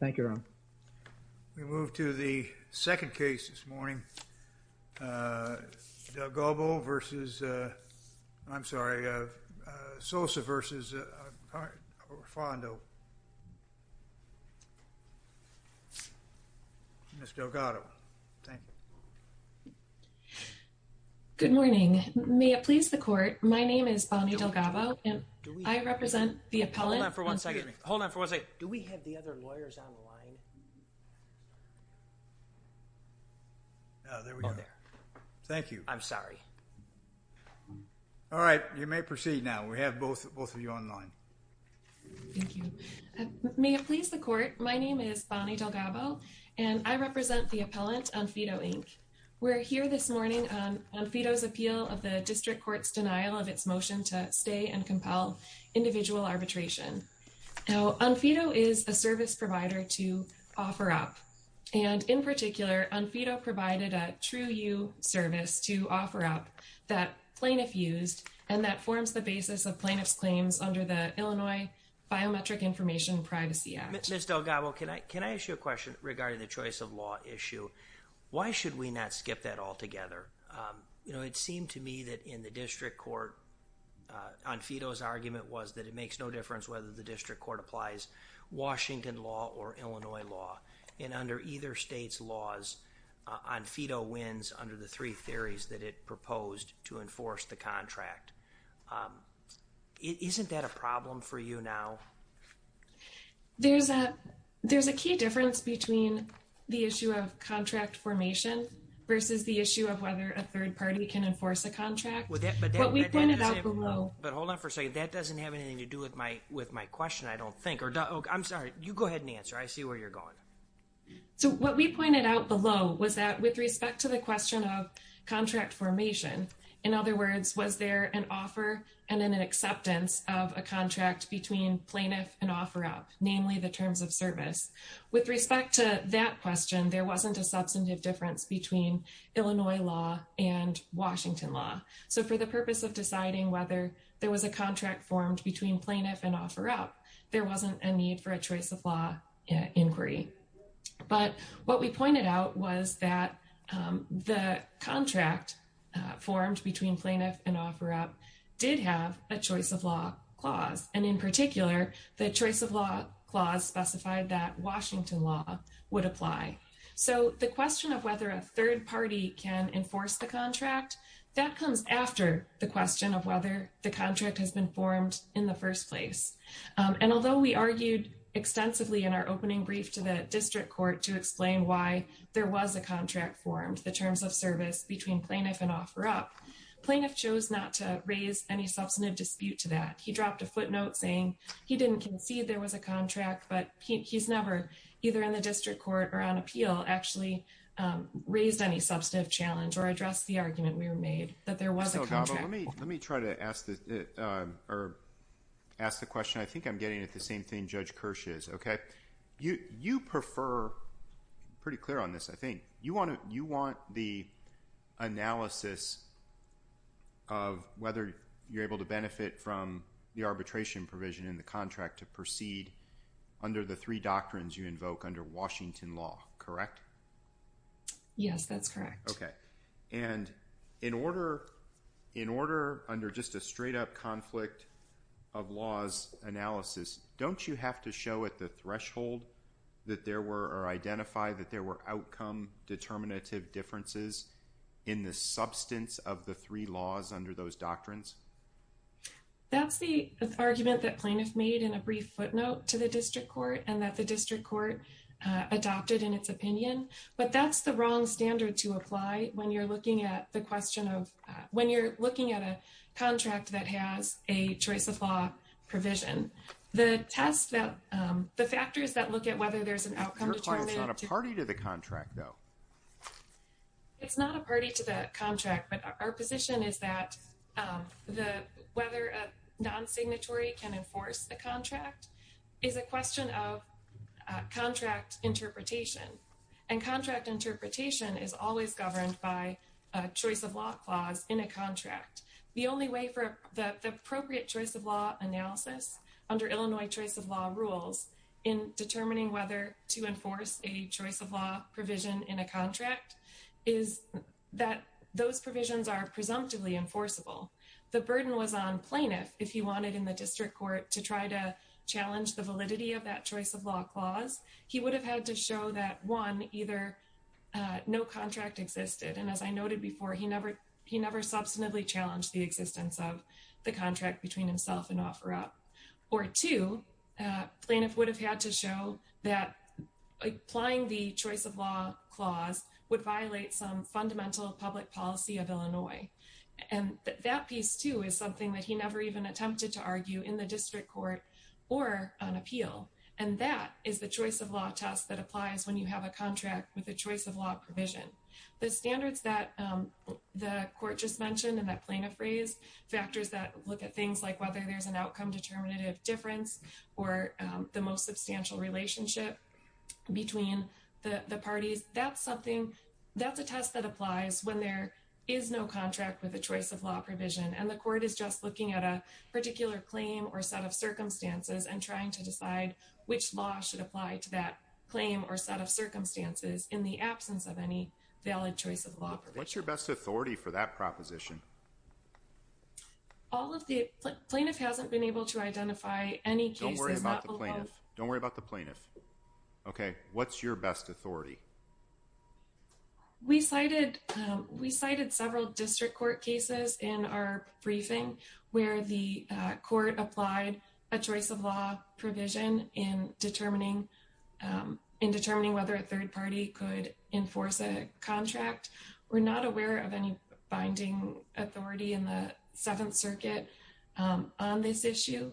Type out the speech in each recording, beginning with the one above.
We move to the second case this morning, Delgado v. Sosa v. Onfido, Inc. I represent the appellant... Hold on for one second. Hold on for one second. Do we have the other lawyers on the line? Oh, there we go. Thank you. I'm sorry. All right, you may proceed now. We have both of you on the line. Thank you. May it please the court, my name is Bonnie Delgado, and I represent the appellant, Onfido, Inc. We're here this morning on Onfido's appeal of the district court's denial of its motion to stay and compel individual arbitration. Now, Onfido is a service provider to OfferUp, and in particular, Onfido provided a TrueYou service to OfferUp that plaintiff used, and that forms the basis of plaintiff's claims under the Illinois Biometric Information Privacy Act. Ms. Delgado, can I ask you a question regarding the choice of law issue? Why should we not skip that altogether? You know, it seemed to me that in the district court, Onfido's argument was that it makes no difference whether the district court applies Washington law or Illinois law, and under either state's laws, Onfido wins under the three theories that it proposed to enforce the contract. Isn't that a problem for you now? There's a key difference between the issue of contract formation versus the issue of whether a third party can enforce a contract. But hold on for a second, that doesn't have anything to do with my question, I don't think. I'm sorry, you go ahead and answer, I see where you're going. So what we pointed out below was that with respect to the question of contract formation, in other words, was there an offer and an acceptance of a contract between plaintiff and OfferUp, namely the terms of service? With respect to that question, there wasn't a substantive difference between Illinois law and Washington law. So for the purpose of deciding whether there was a contract formed between plaintiff and OfferUp, there wasn't a need for a choice of law inquiry. But what we pointed out was that the contract formed between plaintiff and OfferUp did have a choice of law clause. And in particular, the choice of law clause specified that Washington law would apply. So the question of whether a third party can enforce the contract, that comes after the question of whether the contract has been formed in the first place. And although we argued extensively in our opening brief to the district court to explain why there was a contract formed, the terms of service between plaintiff and OfferUp, plaintiff chose not to raise any substantive dispute to that. He dropped a footnote saying he didn't concede there was a contract, but he's never, either in the district court or on appeal, actually raised any substantive challenge or addressed the argument we were made that there was a contract. Let me try to ask the question. I think I'm getting at the same thing Judge Kirsch is. You prefer, pretty clear on this I think, you want the analysis of whether you're able to benefit from the arbitration provision in the contract to proceed under the three doctrines you invoke under Washington law, correct? Yes, that's correct. Okay. And in order under just a straight up conflict of laws analysis, don't you have to show at the threshold that there were, or identify that there were outcome determinative differences in the substance of the three laws under those doctrines? That's the argument that plaintiff made in a brief footnote to the district court and that the district court adopted in its opinion. But that's the wrong standard to apply when you're looking at the question of, when you're looking at a contract that has a choice of law provision. The test that, the factors that look at whether there's an outcome determinant. Your client's not a party to the contract though. It's not a party to the contract, but our position is that whether a non-signatory can enforce a contract is a question of contract interpretation. And contract interpretation is always governed by a choice of law clause in a contract. The only way for the appropriate choice of law analysis under Illinois choice of law rules in determining whether to enforce a choice of law provision in a contract, is that those provisions are presumptively enforceable. The burden was on plaintiff if he wanted in the district court to try to challenge the validity of that choice of law clause. He would have had to show that one, either no contract existed. And as I noted before, he never, he never substantively challenged the existence of the contract between himself and OfferUp. Or two, plaintiff would have had to show that applying the choice of law clause would violate some fundamental public policy of Illinois. And that piece too is something that he never even attempted to argue in the district court or on appeal. And that is the choice of law test that applies when you have a contract with a choice of law provision. The standards that the court just mentioned and that plaintiff raised, factors that look at things like whether there's an outcome determinative difference, or the most substantial relationship between the parties, that's something, that's a test that applies when there is no contract with a choice of law provision. And the court is just looking at a particular claim or set of circumstances and trying to decide which law should apply to that claim or set of circumstances in the absence of any valid choice of law provision. What's your best authority for that proposition? All of the, plaintiff hasn't been able to identify any cases. Don't worry about the plaintiff. Don't worry about the plaintiff. Okay, what's your best authority? We cited several district court cases in our briefing where the court applied a choice of law provision in determining whether a third party could enforce a contract. We're not aware of any binding authority in the Seventh Circuit on this issue.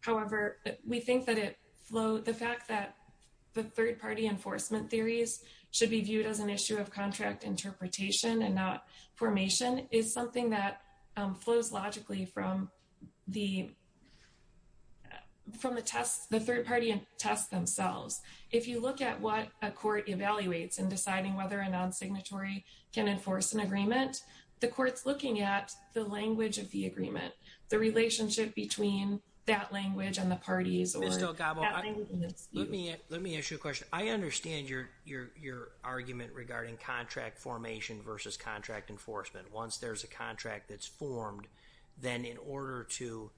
However, we think that the fact that the third party enforcement theories should be viewed as an issue of contract interpretation and not formation is something that flows logically from the test, the third party tests themselves. If you look at what a court evaluates in deciding whether a non-signatory can enforce an agreement, the court's looking at the language of the agreement, the relationship between that language and the parties. Let me ask you a question. I understand your argument regarding contract formation versus contract enforcement. Once there's a contract that's formed, then in order to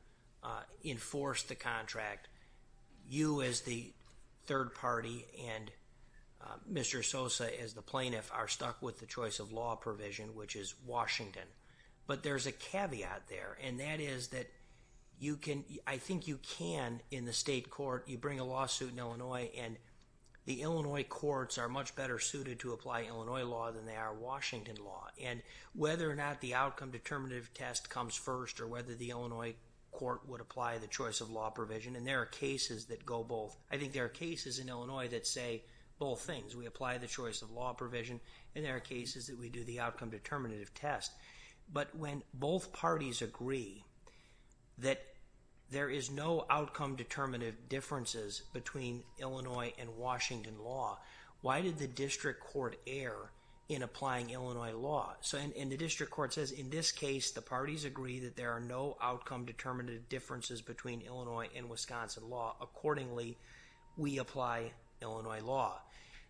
enforce the contract, you as the third party and Mr. Sosa as the plaintiff are stuck with the choice of law provision, which is Washington. But there's a caveat there, and that is that I think you can, in the state court, you bring a lawsuit in Illinois, and the Illinois courts are much better suited to apply Illinois law than they are Washington law. And whether or not the outcome determinative test comes first or whether the Illinois court would apply the choice of law provision, and there are cases that go both. I think there are cases in Illinois that say both things. We apply the choice of law provision, and there are cases that we do the outcome determinative test. But when both parties agree that there is no outcome determinative differences between Illinois and Washington law, why did the district court err in applying Illinois law? And the district court says, in this case, the parties agree that there are no outcome determinative differences between Illinois and Wisconsin law. Accordingly, we apply Illinois law.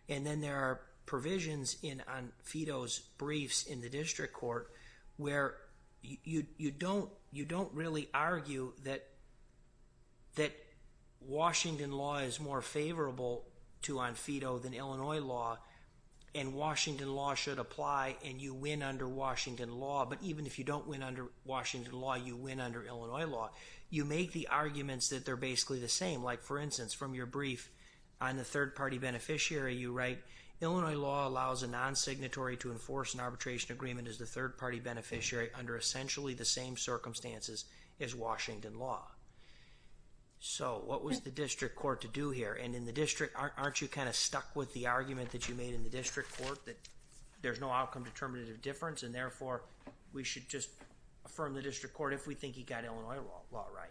And then there are provisions in Onfito's briefs in the district court where you don't really argue that Washington law is more favorable to Onfito than Illinois law. And Washington law should apply, and you win under Washington law. But even if you don't win under Washington law, you win under Illinois law. You make the arguments that they're basically the same. Like, for instance, from your brief on the third-party beneficiary, you write, Illinois law allows a non-signatory to enforce an arbitration agreement as the third-party beneficiary under essentially the same circumstances as Washington law. So what was the district court to do here? And in the district, aren't you kind of stuck with the argument that you made in the district court that there's no outcome determinative difference? And therefore, we should just affirm the district court if we think he got Illinois law right.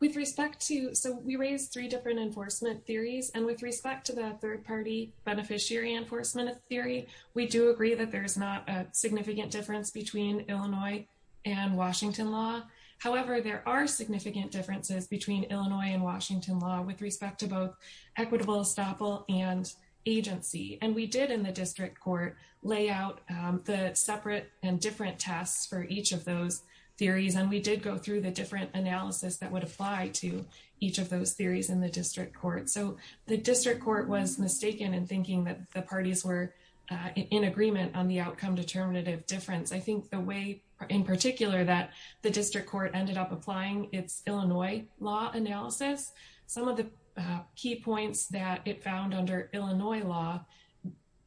With respect to – so we raised three different enforcement theories. And with respect to the third-party beneficiary enforcement theory, we do agree that there's not a significant difference between Illinois and Washington law. However, there are significant differences between Illinois and Washington law with respect to both equitable estoppel and agency. And we did in the district court lay out the separate and different tests for each of those theories. And we did go through the different analysis that would apply to each of those theories in the district court. So the district court was mistaken in thinking that the parties were in agreement on the outcome determinative difference. I think the way in particular that the district court ended up applying its Illinois law analysis, some of the key points that it found under Illinois law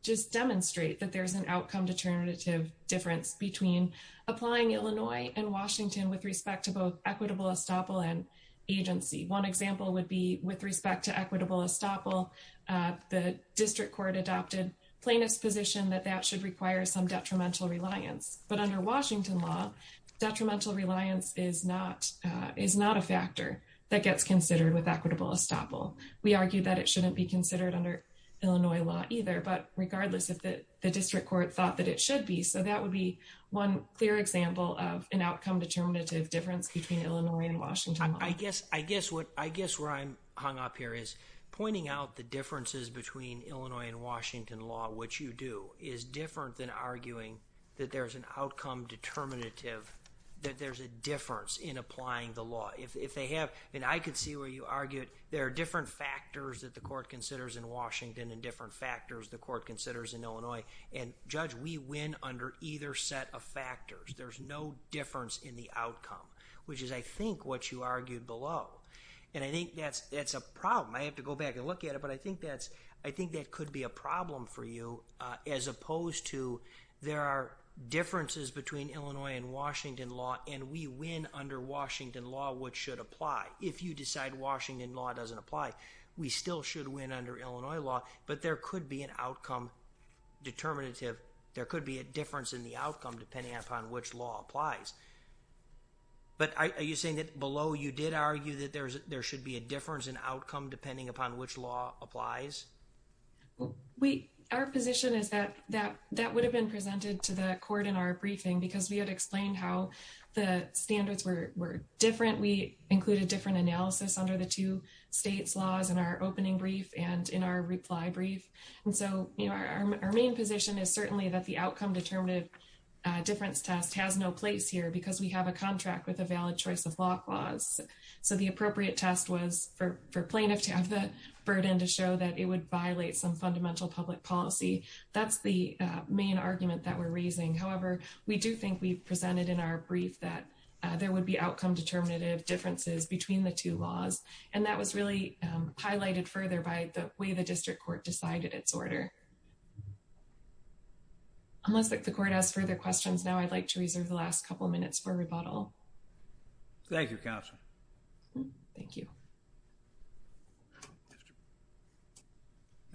just demonstrate that there's an outcome determinative difference between applying Illinois and Washington with respect to both equitable estoppel and agency. One example would be with respect to equitable estoppel, the district court adopted plaintiff's position that that should require some detrimental reliance. But under Washington law, detrimental reliance is not a factor that gets considered with equitable estoppel. We argue that it shouldn't be considered under Illinois law either. But regardless, the district court thought that it should be. So that would be one clear example of an outcome determinative difference between Illinois and Washington law. I guess where I'm hung up here is pointing out the differences between Illinois and Washington law, which you do, is different than arguing that there's an outcome determinative, that there's a difference in applying the law. If they have, and I can see where you argue it, there are different factors that the court considers in Washington and different factors the court considers in Illinois. And Judge, we win under either set of factors. There's no difference in the outcome, which is, I think, what you argued below. And I think that's a problem. I have to go back and look at it. But I think that could be a problem for you as opposed to there are differences between Illinois and Washington law, and we win under Washington law, which should apply. If you decide Washington law doesn't apply, we still should win under Illinois law. But there could be an outcome determinative, there could be a difference in the outcome depending upon which law applies. But are you saying that below you did argue that there should be a difference in outcome depending upon which law applies? Our position is that that would have been presented to the court in our briefing because we had explained how the standards were different. We included different analysis under the two states laws in our opening brief and in our reply brief. And so our main position is certainly that the outcome determinative difference test has no place here because we have a contract with a valid choice of block laws. So the appropriate test was for plaintiffs to have the burden to show that it would violate some fundamental public policy. That's the main argument that we're raising. However, we do think we've presented in our brief that there would be outcome determinative differences between the two laws. And that was really highlighted further by the way the district court decided its order. Unless the court has further questions now, I'd like to reserve the last couple of minutes for rebuttal. Thank you, counsel. Thank you.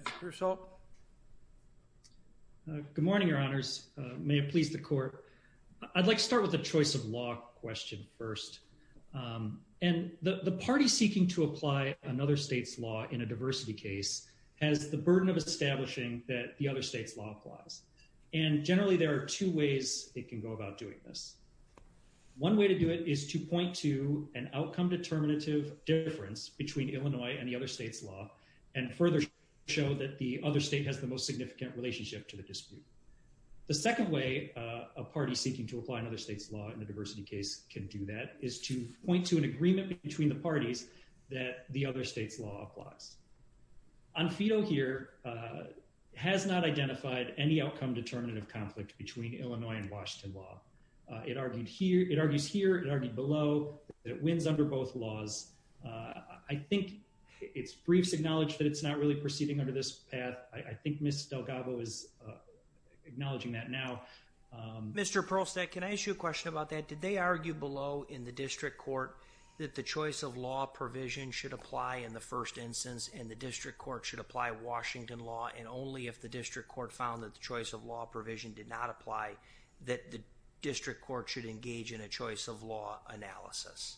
Mr. Purcell. Good morning, Your Honors. May it please the court. I'd like to start with the choice of law question first. And the party seeking to apply another state's law in a diversity case has the burden of establishing that the other state's law applies. And generally there are two ways it can go about doing this. One way to do it is to point to an outcome determinative difference between Illinois and the other state's law and further show that the other state has the most significant relationship to the dispute. The second way a party seeking to apply another state's law in a diversity case can do that is to point to an agreement between the parties that the other state's law applies. On fedo here has not identified any outcome determinative conflict between Illinois and Washington law. It argued here, it argues here, it argued below, that it wins under both laws. I think its briefs acknowledge that it's not really proceeding under this path. I think Ms. Delgado is acknowledging that now. Mr. Perlstadt, can I ask you a question about that? Did they argue below in the district court that the choice of law provision should apply in the first instance and the district court should apply Washington law and only if the district court found that the choice of law provision did not apply that the district court should engage in a choice of law analysis?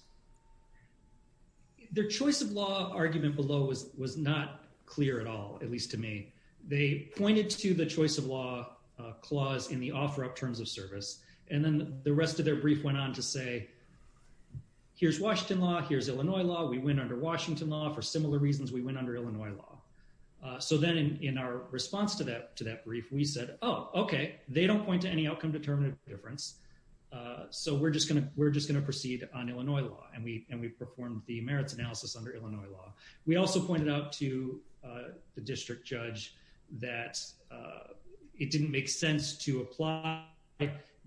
Their choice of law argument below was not clear at all, at least to me. They pointed to the choice of law clause in the offer up terms of service, and then the rest of their brief went on to say, here's Washington law, here's Illinois law, we win under Washington law. For similar reasons, we win under Illinois law. So then in our response to that brief, we said, oh, okay, they don't point to any outcome determinative difference, so we're just going to proceed on Illinois law, and we performed the merits analysis under Illinois law. We also pointed out to the district judge that it didn't make sense to apply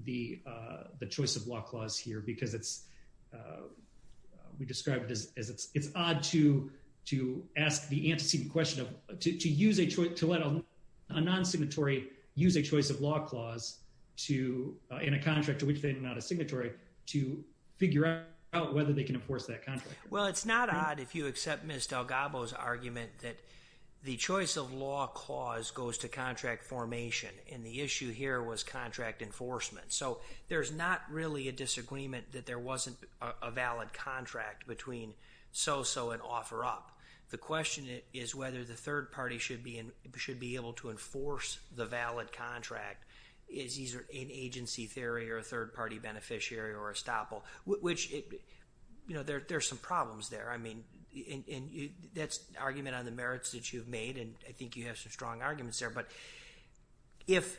the choice of law clause here because it's, we described it as it's odd to ask the antecedent question of, to use a choice, to let a non-signatory use a choice of law clause to, in a contract to which they are not a signatory, to figure out whether they can enforce that contract. Well, it's not odd if you accept Ms. Delgado's argument that the choice of law clause goes to contract formation, and the issue here was contract enforcement. So there's not really a disagreement that there wasn't a valid contract between so-so and offer up. The question is whether the third party should be able to enforce the valid contract is either in agency theory or a third party beneficiary or estoppel, which, you know, there's some problems there. I mean, and that's an argument on the merits that you've made, and I think you have some strong arguments there, but if,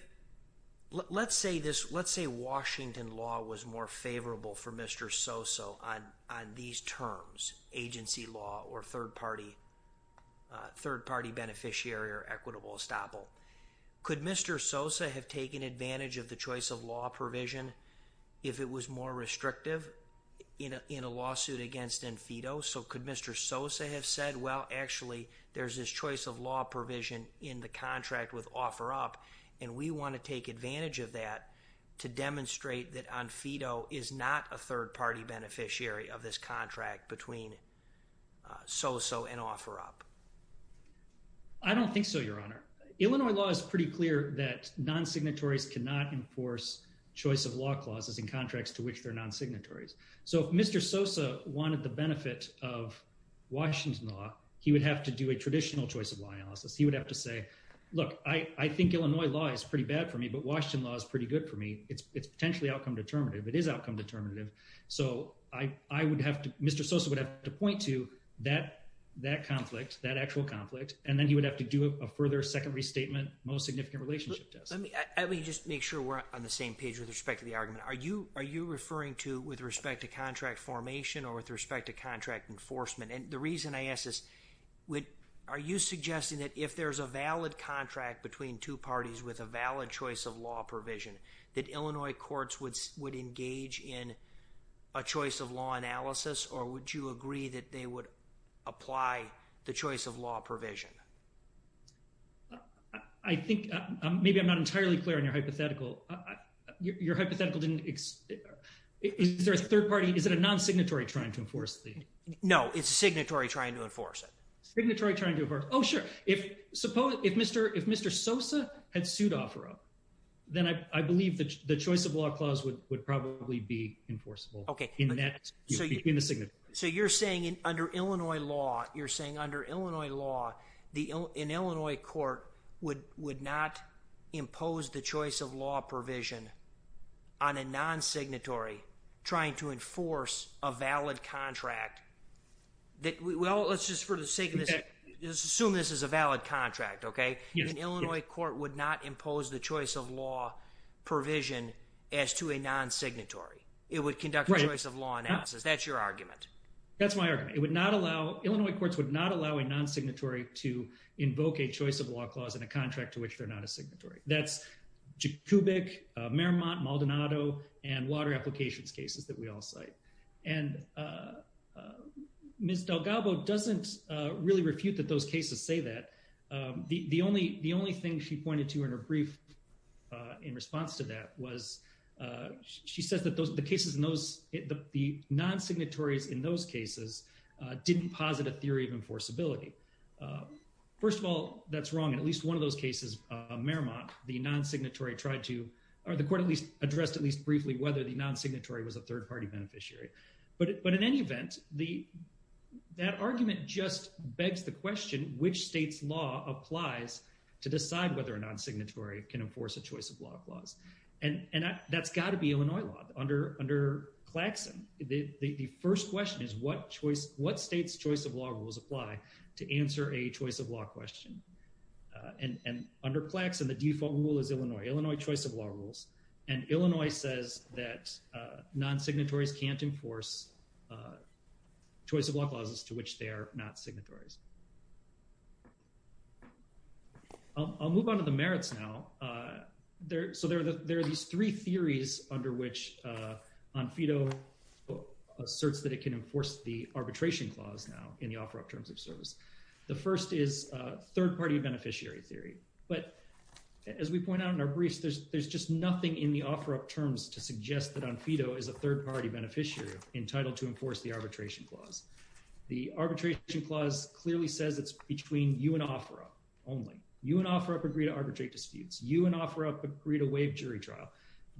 let's say this, let's say Washington law was more favorable for Mr. Sosa on these terms, agency law or third party, third party beneficiary or equitable estoppel. Could Mr. Sosa have taken advantage of the choice of law provision if it was more restrictive in a lawsuit against Enfito? So could Mr. Sosa have said, well, actually, there's this choice of law provision in the contract with offer up, and we want to take advantage of that to demonstrate that Enfito is not a third party beneficiary of this contract between so-so and offer up? I don't think so, Your Honor. Illinois law is pretty clear that non-signatories cannot enforce choice of law clauses in contracts to which they're non-signatories. So if Mr. Sosa wanted the benefit of Washington law, he would have to do a traditional choice of law analysis. He would have to say, look, I think Illinois law is pretty bad for me, but Washington law is pretty good for me. It's potentially outcome determinative. It is outcome determinative. So I would have to, Mr. Sosa would have to point to that conflict, that actual conflict, and then he would have to do a further second restatement, most significant relationship test. Let me just make sure we're on the same page with respect to the argument. Are you referring to with respect to contract formation or with respect to contract enforcement? And the reason I ask this, are you suggesting that if there's a valid contract between two parties with a valid choice of law provision, that Illinois courts would engage in a choice of law analysis, or would you agree that they would apply the choice of law provision? I think maybe I'm not entirely clear on your hypothetical. Your hypothetical didn't—is there a third party? Is it a non-signatory trying to enforce the— No, it's a signatory trying to enforce it. Signatory trying to enforce it. Oh, sure. If Mr. Sosa had sued Offerell, then I believe the choice of law clause would probably be enforceable in that—in the signatory. So you're saying under Illinois law, you're saying under Illinois law, an Illinois court would not impose the choice of law provision on a non-signatory trying to enforce a valid contract that—well, let's just for the sake of this, let's assume this is a valid contract, okay? An Illinois court would not impose the choice of law provision as to a non-signatory. It would conduct a choice of law analysis. Is that your argument? That's my argument. It would not allow—Illinois courts would not allow a non-signatory to invoke a choice of law clause in a contract to which they're not a signatory. That's Jacobic, Merrimont, Maldonado, and water applications cases that we all cite. And Ms. DelGaubo doesn't really refute that those cases say that. The only thing she pointed to in her brief in response to that was she says that the cases in those—the non-signatories in those cases didn't posit a theory of enforceability. First of all, that's wrong. In at least one of those cases, Merrimont, the non-signatory tried to—or the court at least addressed at least briefly whether the non-signatory was a third-party beneficiary. But in any event, that argument just begs the question, which state's law applies to decide whether a non-signatory can enforce a choice of law clause? And that's got to be Illinois law. Under Claxon, the first question is what choice—what state's choice of law rules apply to answer a choice of law question? And under Claxon, the default rule is Illinois. Illinois choice of law rules. And Illinois says that non-signatories can't enforce choice of law clauses to which they are not signatories. I'll move on to the merits now. So there are these three theories under which ONFEDO asserts that it can enforce the arbitration clause now in the offer of terms of service. The first is third-party beneficiary theory. But as we point out in our briefs, there's just nothing in the offer of terms to suggest that ONFEDO is a third-party beneficiary entitled to enforce the arbitration clause. The arbitration clause clearly says it's between you and offer up only. You and offer up agree to arbitrate disputes. You and offer up agree to waive jury trial.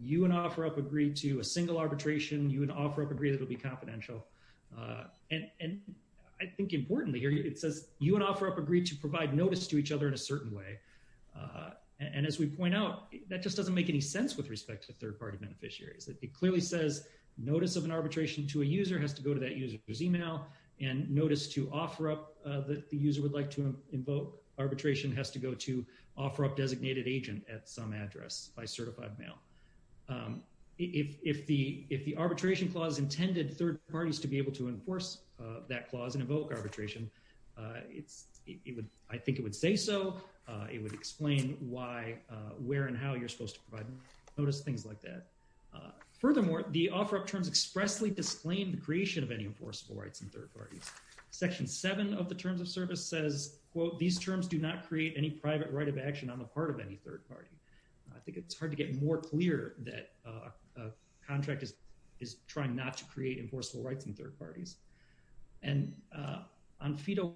You and offer up agree to a single arbitration. You and offer up agree that it will be confidential. And I think importantly here, it says you and offer up agree to provide notice to each other in a certain way. And as we point out, that just doesn't make any sense with respect to third-party beneficiaries. It clearly says notice of an arbitration to a user has to go to that user's email. And notice to offer up that the user would like to invoke arbitration has to go to offer up designated agent at some address by certified mail. If the arbitration clause intended third parties to be able to enforce that clause and invoke arbitration, I think it would say so. It would explain why, where, and how you're supposed to provide notice, things like that. Furthermore, the offer up terms expressly disclaim the creation of any enforceable rights in third parties. Section 7 of the Terms of Service says, quote, these terms do not create any private right of action on the part of any third party. I think it's hard to get more clear that a contract is trying not to create enforceable rights in third parties. And ONFEDO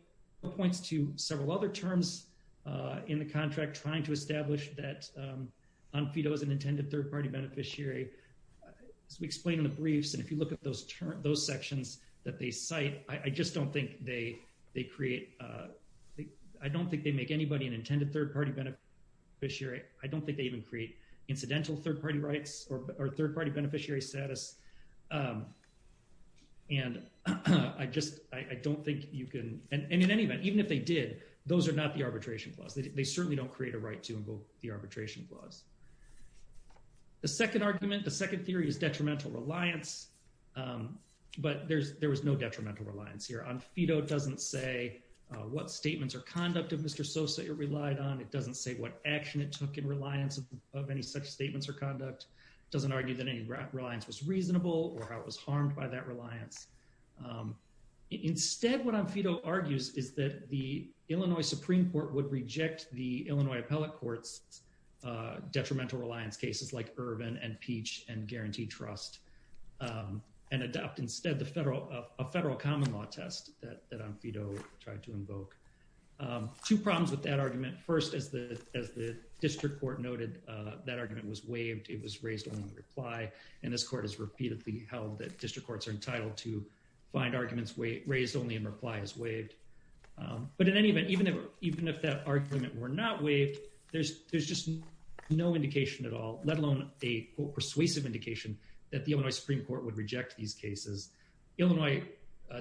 points to several other terms in the contract trying to establish that ONFEDO is an intended third-party beneficiary. As we explain in the briefs, and if you look at those sections that they cite, I just don't think they create – I don't think they even create incidental third-party rights or third-party beneficiary status. And I just – I don't think you can – and in any event, even if they did, those are not the arbitration clause. They certainly don't create a right to invoke the arbitration clause. The second argument, the second theory is detrimental reliance, but there was no detrimental reliance here. ONFEDO doesn't say what statements or conduct of Mr. Sosa it relied on. It doesn't say what action it took in reliance of any such statements or conduct. It doesn't argue that any reliance was reasonable or how it was harmed by that reliance. Instead, what ONFEDO argues is that the Illinois Supreme Court would reject the Illinois appellate court's detrimental reliance cases like Ervin and Peach and Guarantee Trust and adopt instead a federal common law test that ONFEDO tried to invoke. Two problems with that argument. First, as the district court noted, that argument was waived. It was raised only in reply, and this court has repeatedly held that district courts are entitled to find arguments raised only in reply as waived. But in any event, even if that argument were not waived, there's just no indication at all, let alone a, quote, persuasive indication that the Illinois Supreme Court would reject these cases. Illinois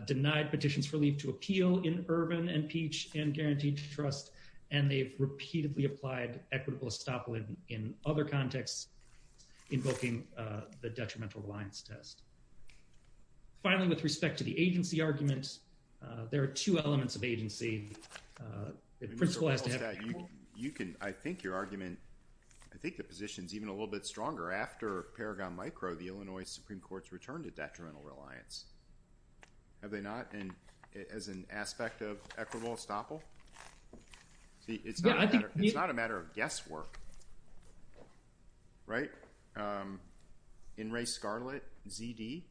denied petitions for leave to appeal in Ervin and Peach and Guarantee Trust, and they've repeatedly applied equitable estoppel in other contexts invoking the detrimental reliance test. Finally, with respect to the agency argument, there are two elements of agency. The principal has to have equal— You can—I think your argument—I think the position's even a little bit stronger. After Paragon Micro, the Illinois Supreme Court's returned to detrimental reliance. Have they not? As an aspect of equitable estoppel? See, it's not a matter of guesswork, right? In Ray Scarlet, ZD?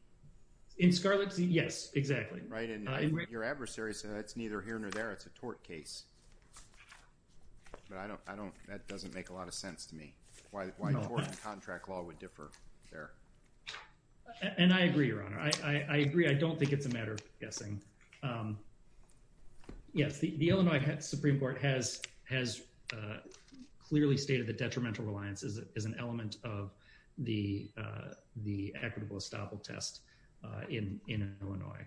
In Scarlet, Z—yes, exactly. Right, and your adversary said that's neither here nor there. It's a tort case. But I don't—that doesn't make a lot of sense to me, why tort and contract law would differ there. And I agree, Your Honor. I agree. I don't think it's a matter of guessing. Yes, the Illinois Supreme Court has clearly stated that detrimental reliance is an element of the equitable estoppel test in Illinois.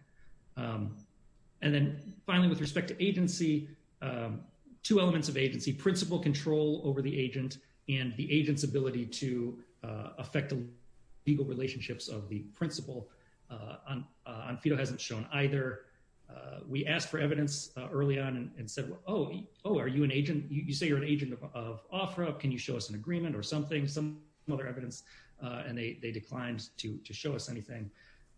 And then, finally, with respect to agency, two elements of agency, principal control over the agent and the agent's ability to affect legal relationships of the principal, Onfito hasn't shown either. We asked for evidence early on and said, oh, are you an agent? You say you're an agent of Ofra. Can you show us an agreement or something, some other evidence? And they declined to show us anything.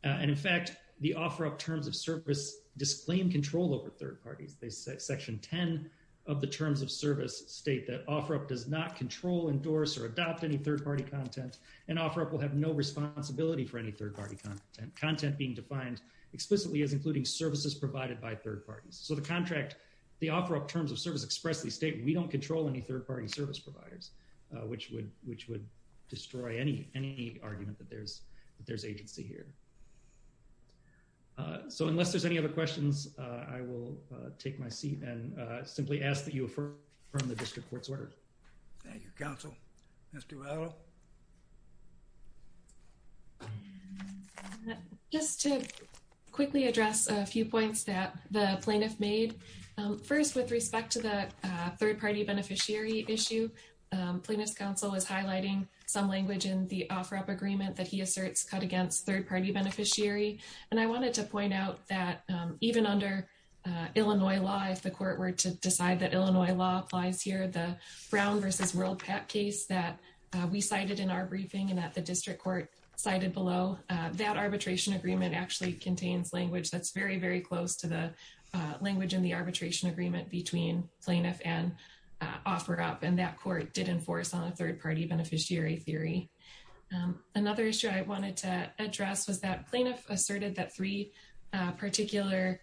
And, in fact, the Ofra terms of service disclaim control over third parties. Section 10 of the terms of service state that Ofra does not control, endorse, or adopt any third-party content, and Ofra will have no responsibility for any third-party content, content being defined explicitly as including services provided by third parties. So the contract, the Ofra terms of service expressly state we don't control any third-party service providers, which would destroy any argument that there's agency here. So unless there's any other questions, I will take my seat and simply ask that you affirm the district court's order. Thank you, counsel. Mr. Vado? Just to quickly address a few points that the plaintiff made. First, with respect to the third-party beneficiary issue, plaintiff's counsel is highlighting some language in the Ofra agreement that he asserts cut against third-party beneficiary. And I wanted to point out that even under Illinois law, if the court were to decide that Illinois law applies here, the Brown v. World Pat case that we cited in our briefing and that the district court cited below, that arbitration agreement actually contains language that's very, very close to the language in the arbitration agreement between plaintiff and Ofra, and that court did enforce on a third-party beneficiary theory. Another issue I wanted to address was that plaintiff asserted that three particular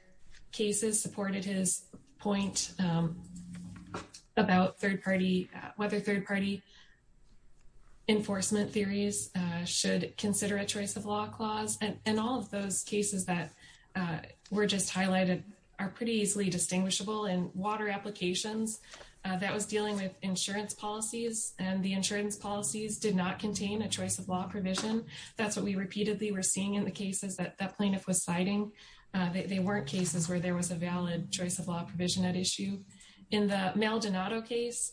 cases supported his point about third-party, whether third-party enforcement theories should consider a choice-of-law clause. And all of those cases that were just highlighted are pretty easily distinguishable in water applications. That was dealing with insurance policies, and the insurance policies did not contain a choice-of-law provision. That's what we repeatedly were seeing in the cases that that plaintiff was citing. They weren't cases where there was a valid choice-of-law provision at issue. In the Maldonado case,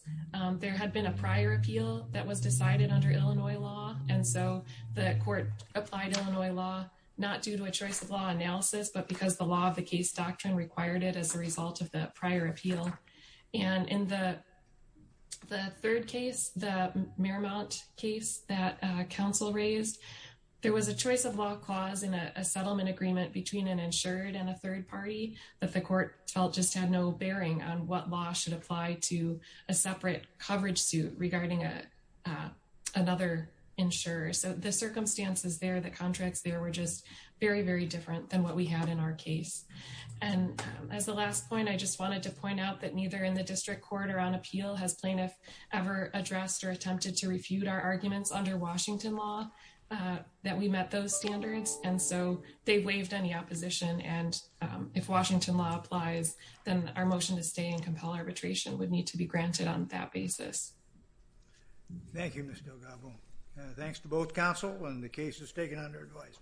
there had been a prior appeal that was decided under Illinois law, and so the court applied Illinois law not due to a choice-of-law analysis, but because the law of the case doctrine required it as a result of the prior appeal. And in the third case, the Mearmount case that counsel raised, there was a choice-of-law clause in a settlement agreement between an insured and a third party that the court felt just had no bearing on what law should apply to a separate coverage suit regarding another insurer. So the circumstances there, the contracts there, were just very, very different than what we had in our case. And as the last point, I just wanted to point out that neither in the district court or on appeal has plaintiff ever addressed or attempted to refute our arguments under Washington law that we met those standards. And so they waived any opposition. And if Washington law applies, then our motion to stay and compel arbitration would need to be granted on that basis. Thank you, Ms. Delgado. Thanks to both counsel and the cases taken under advice.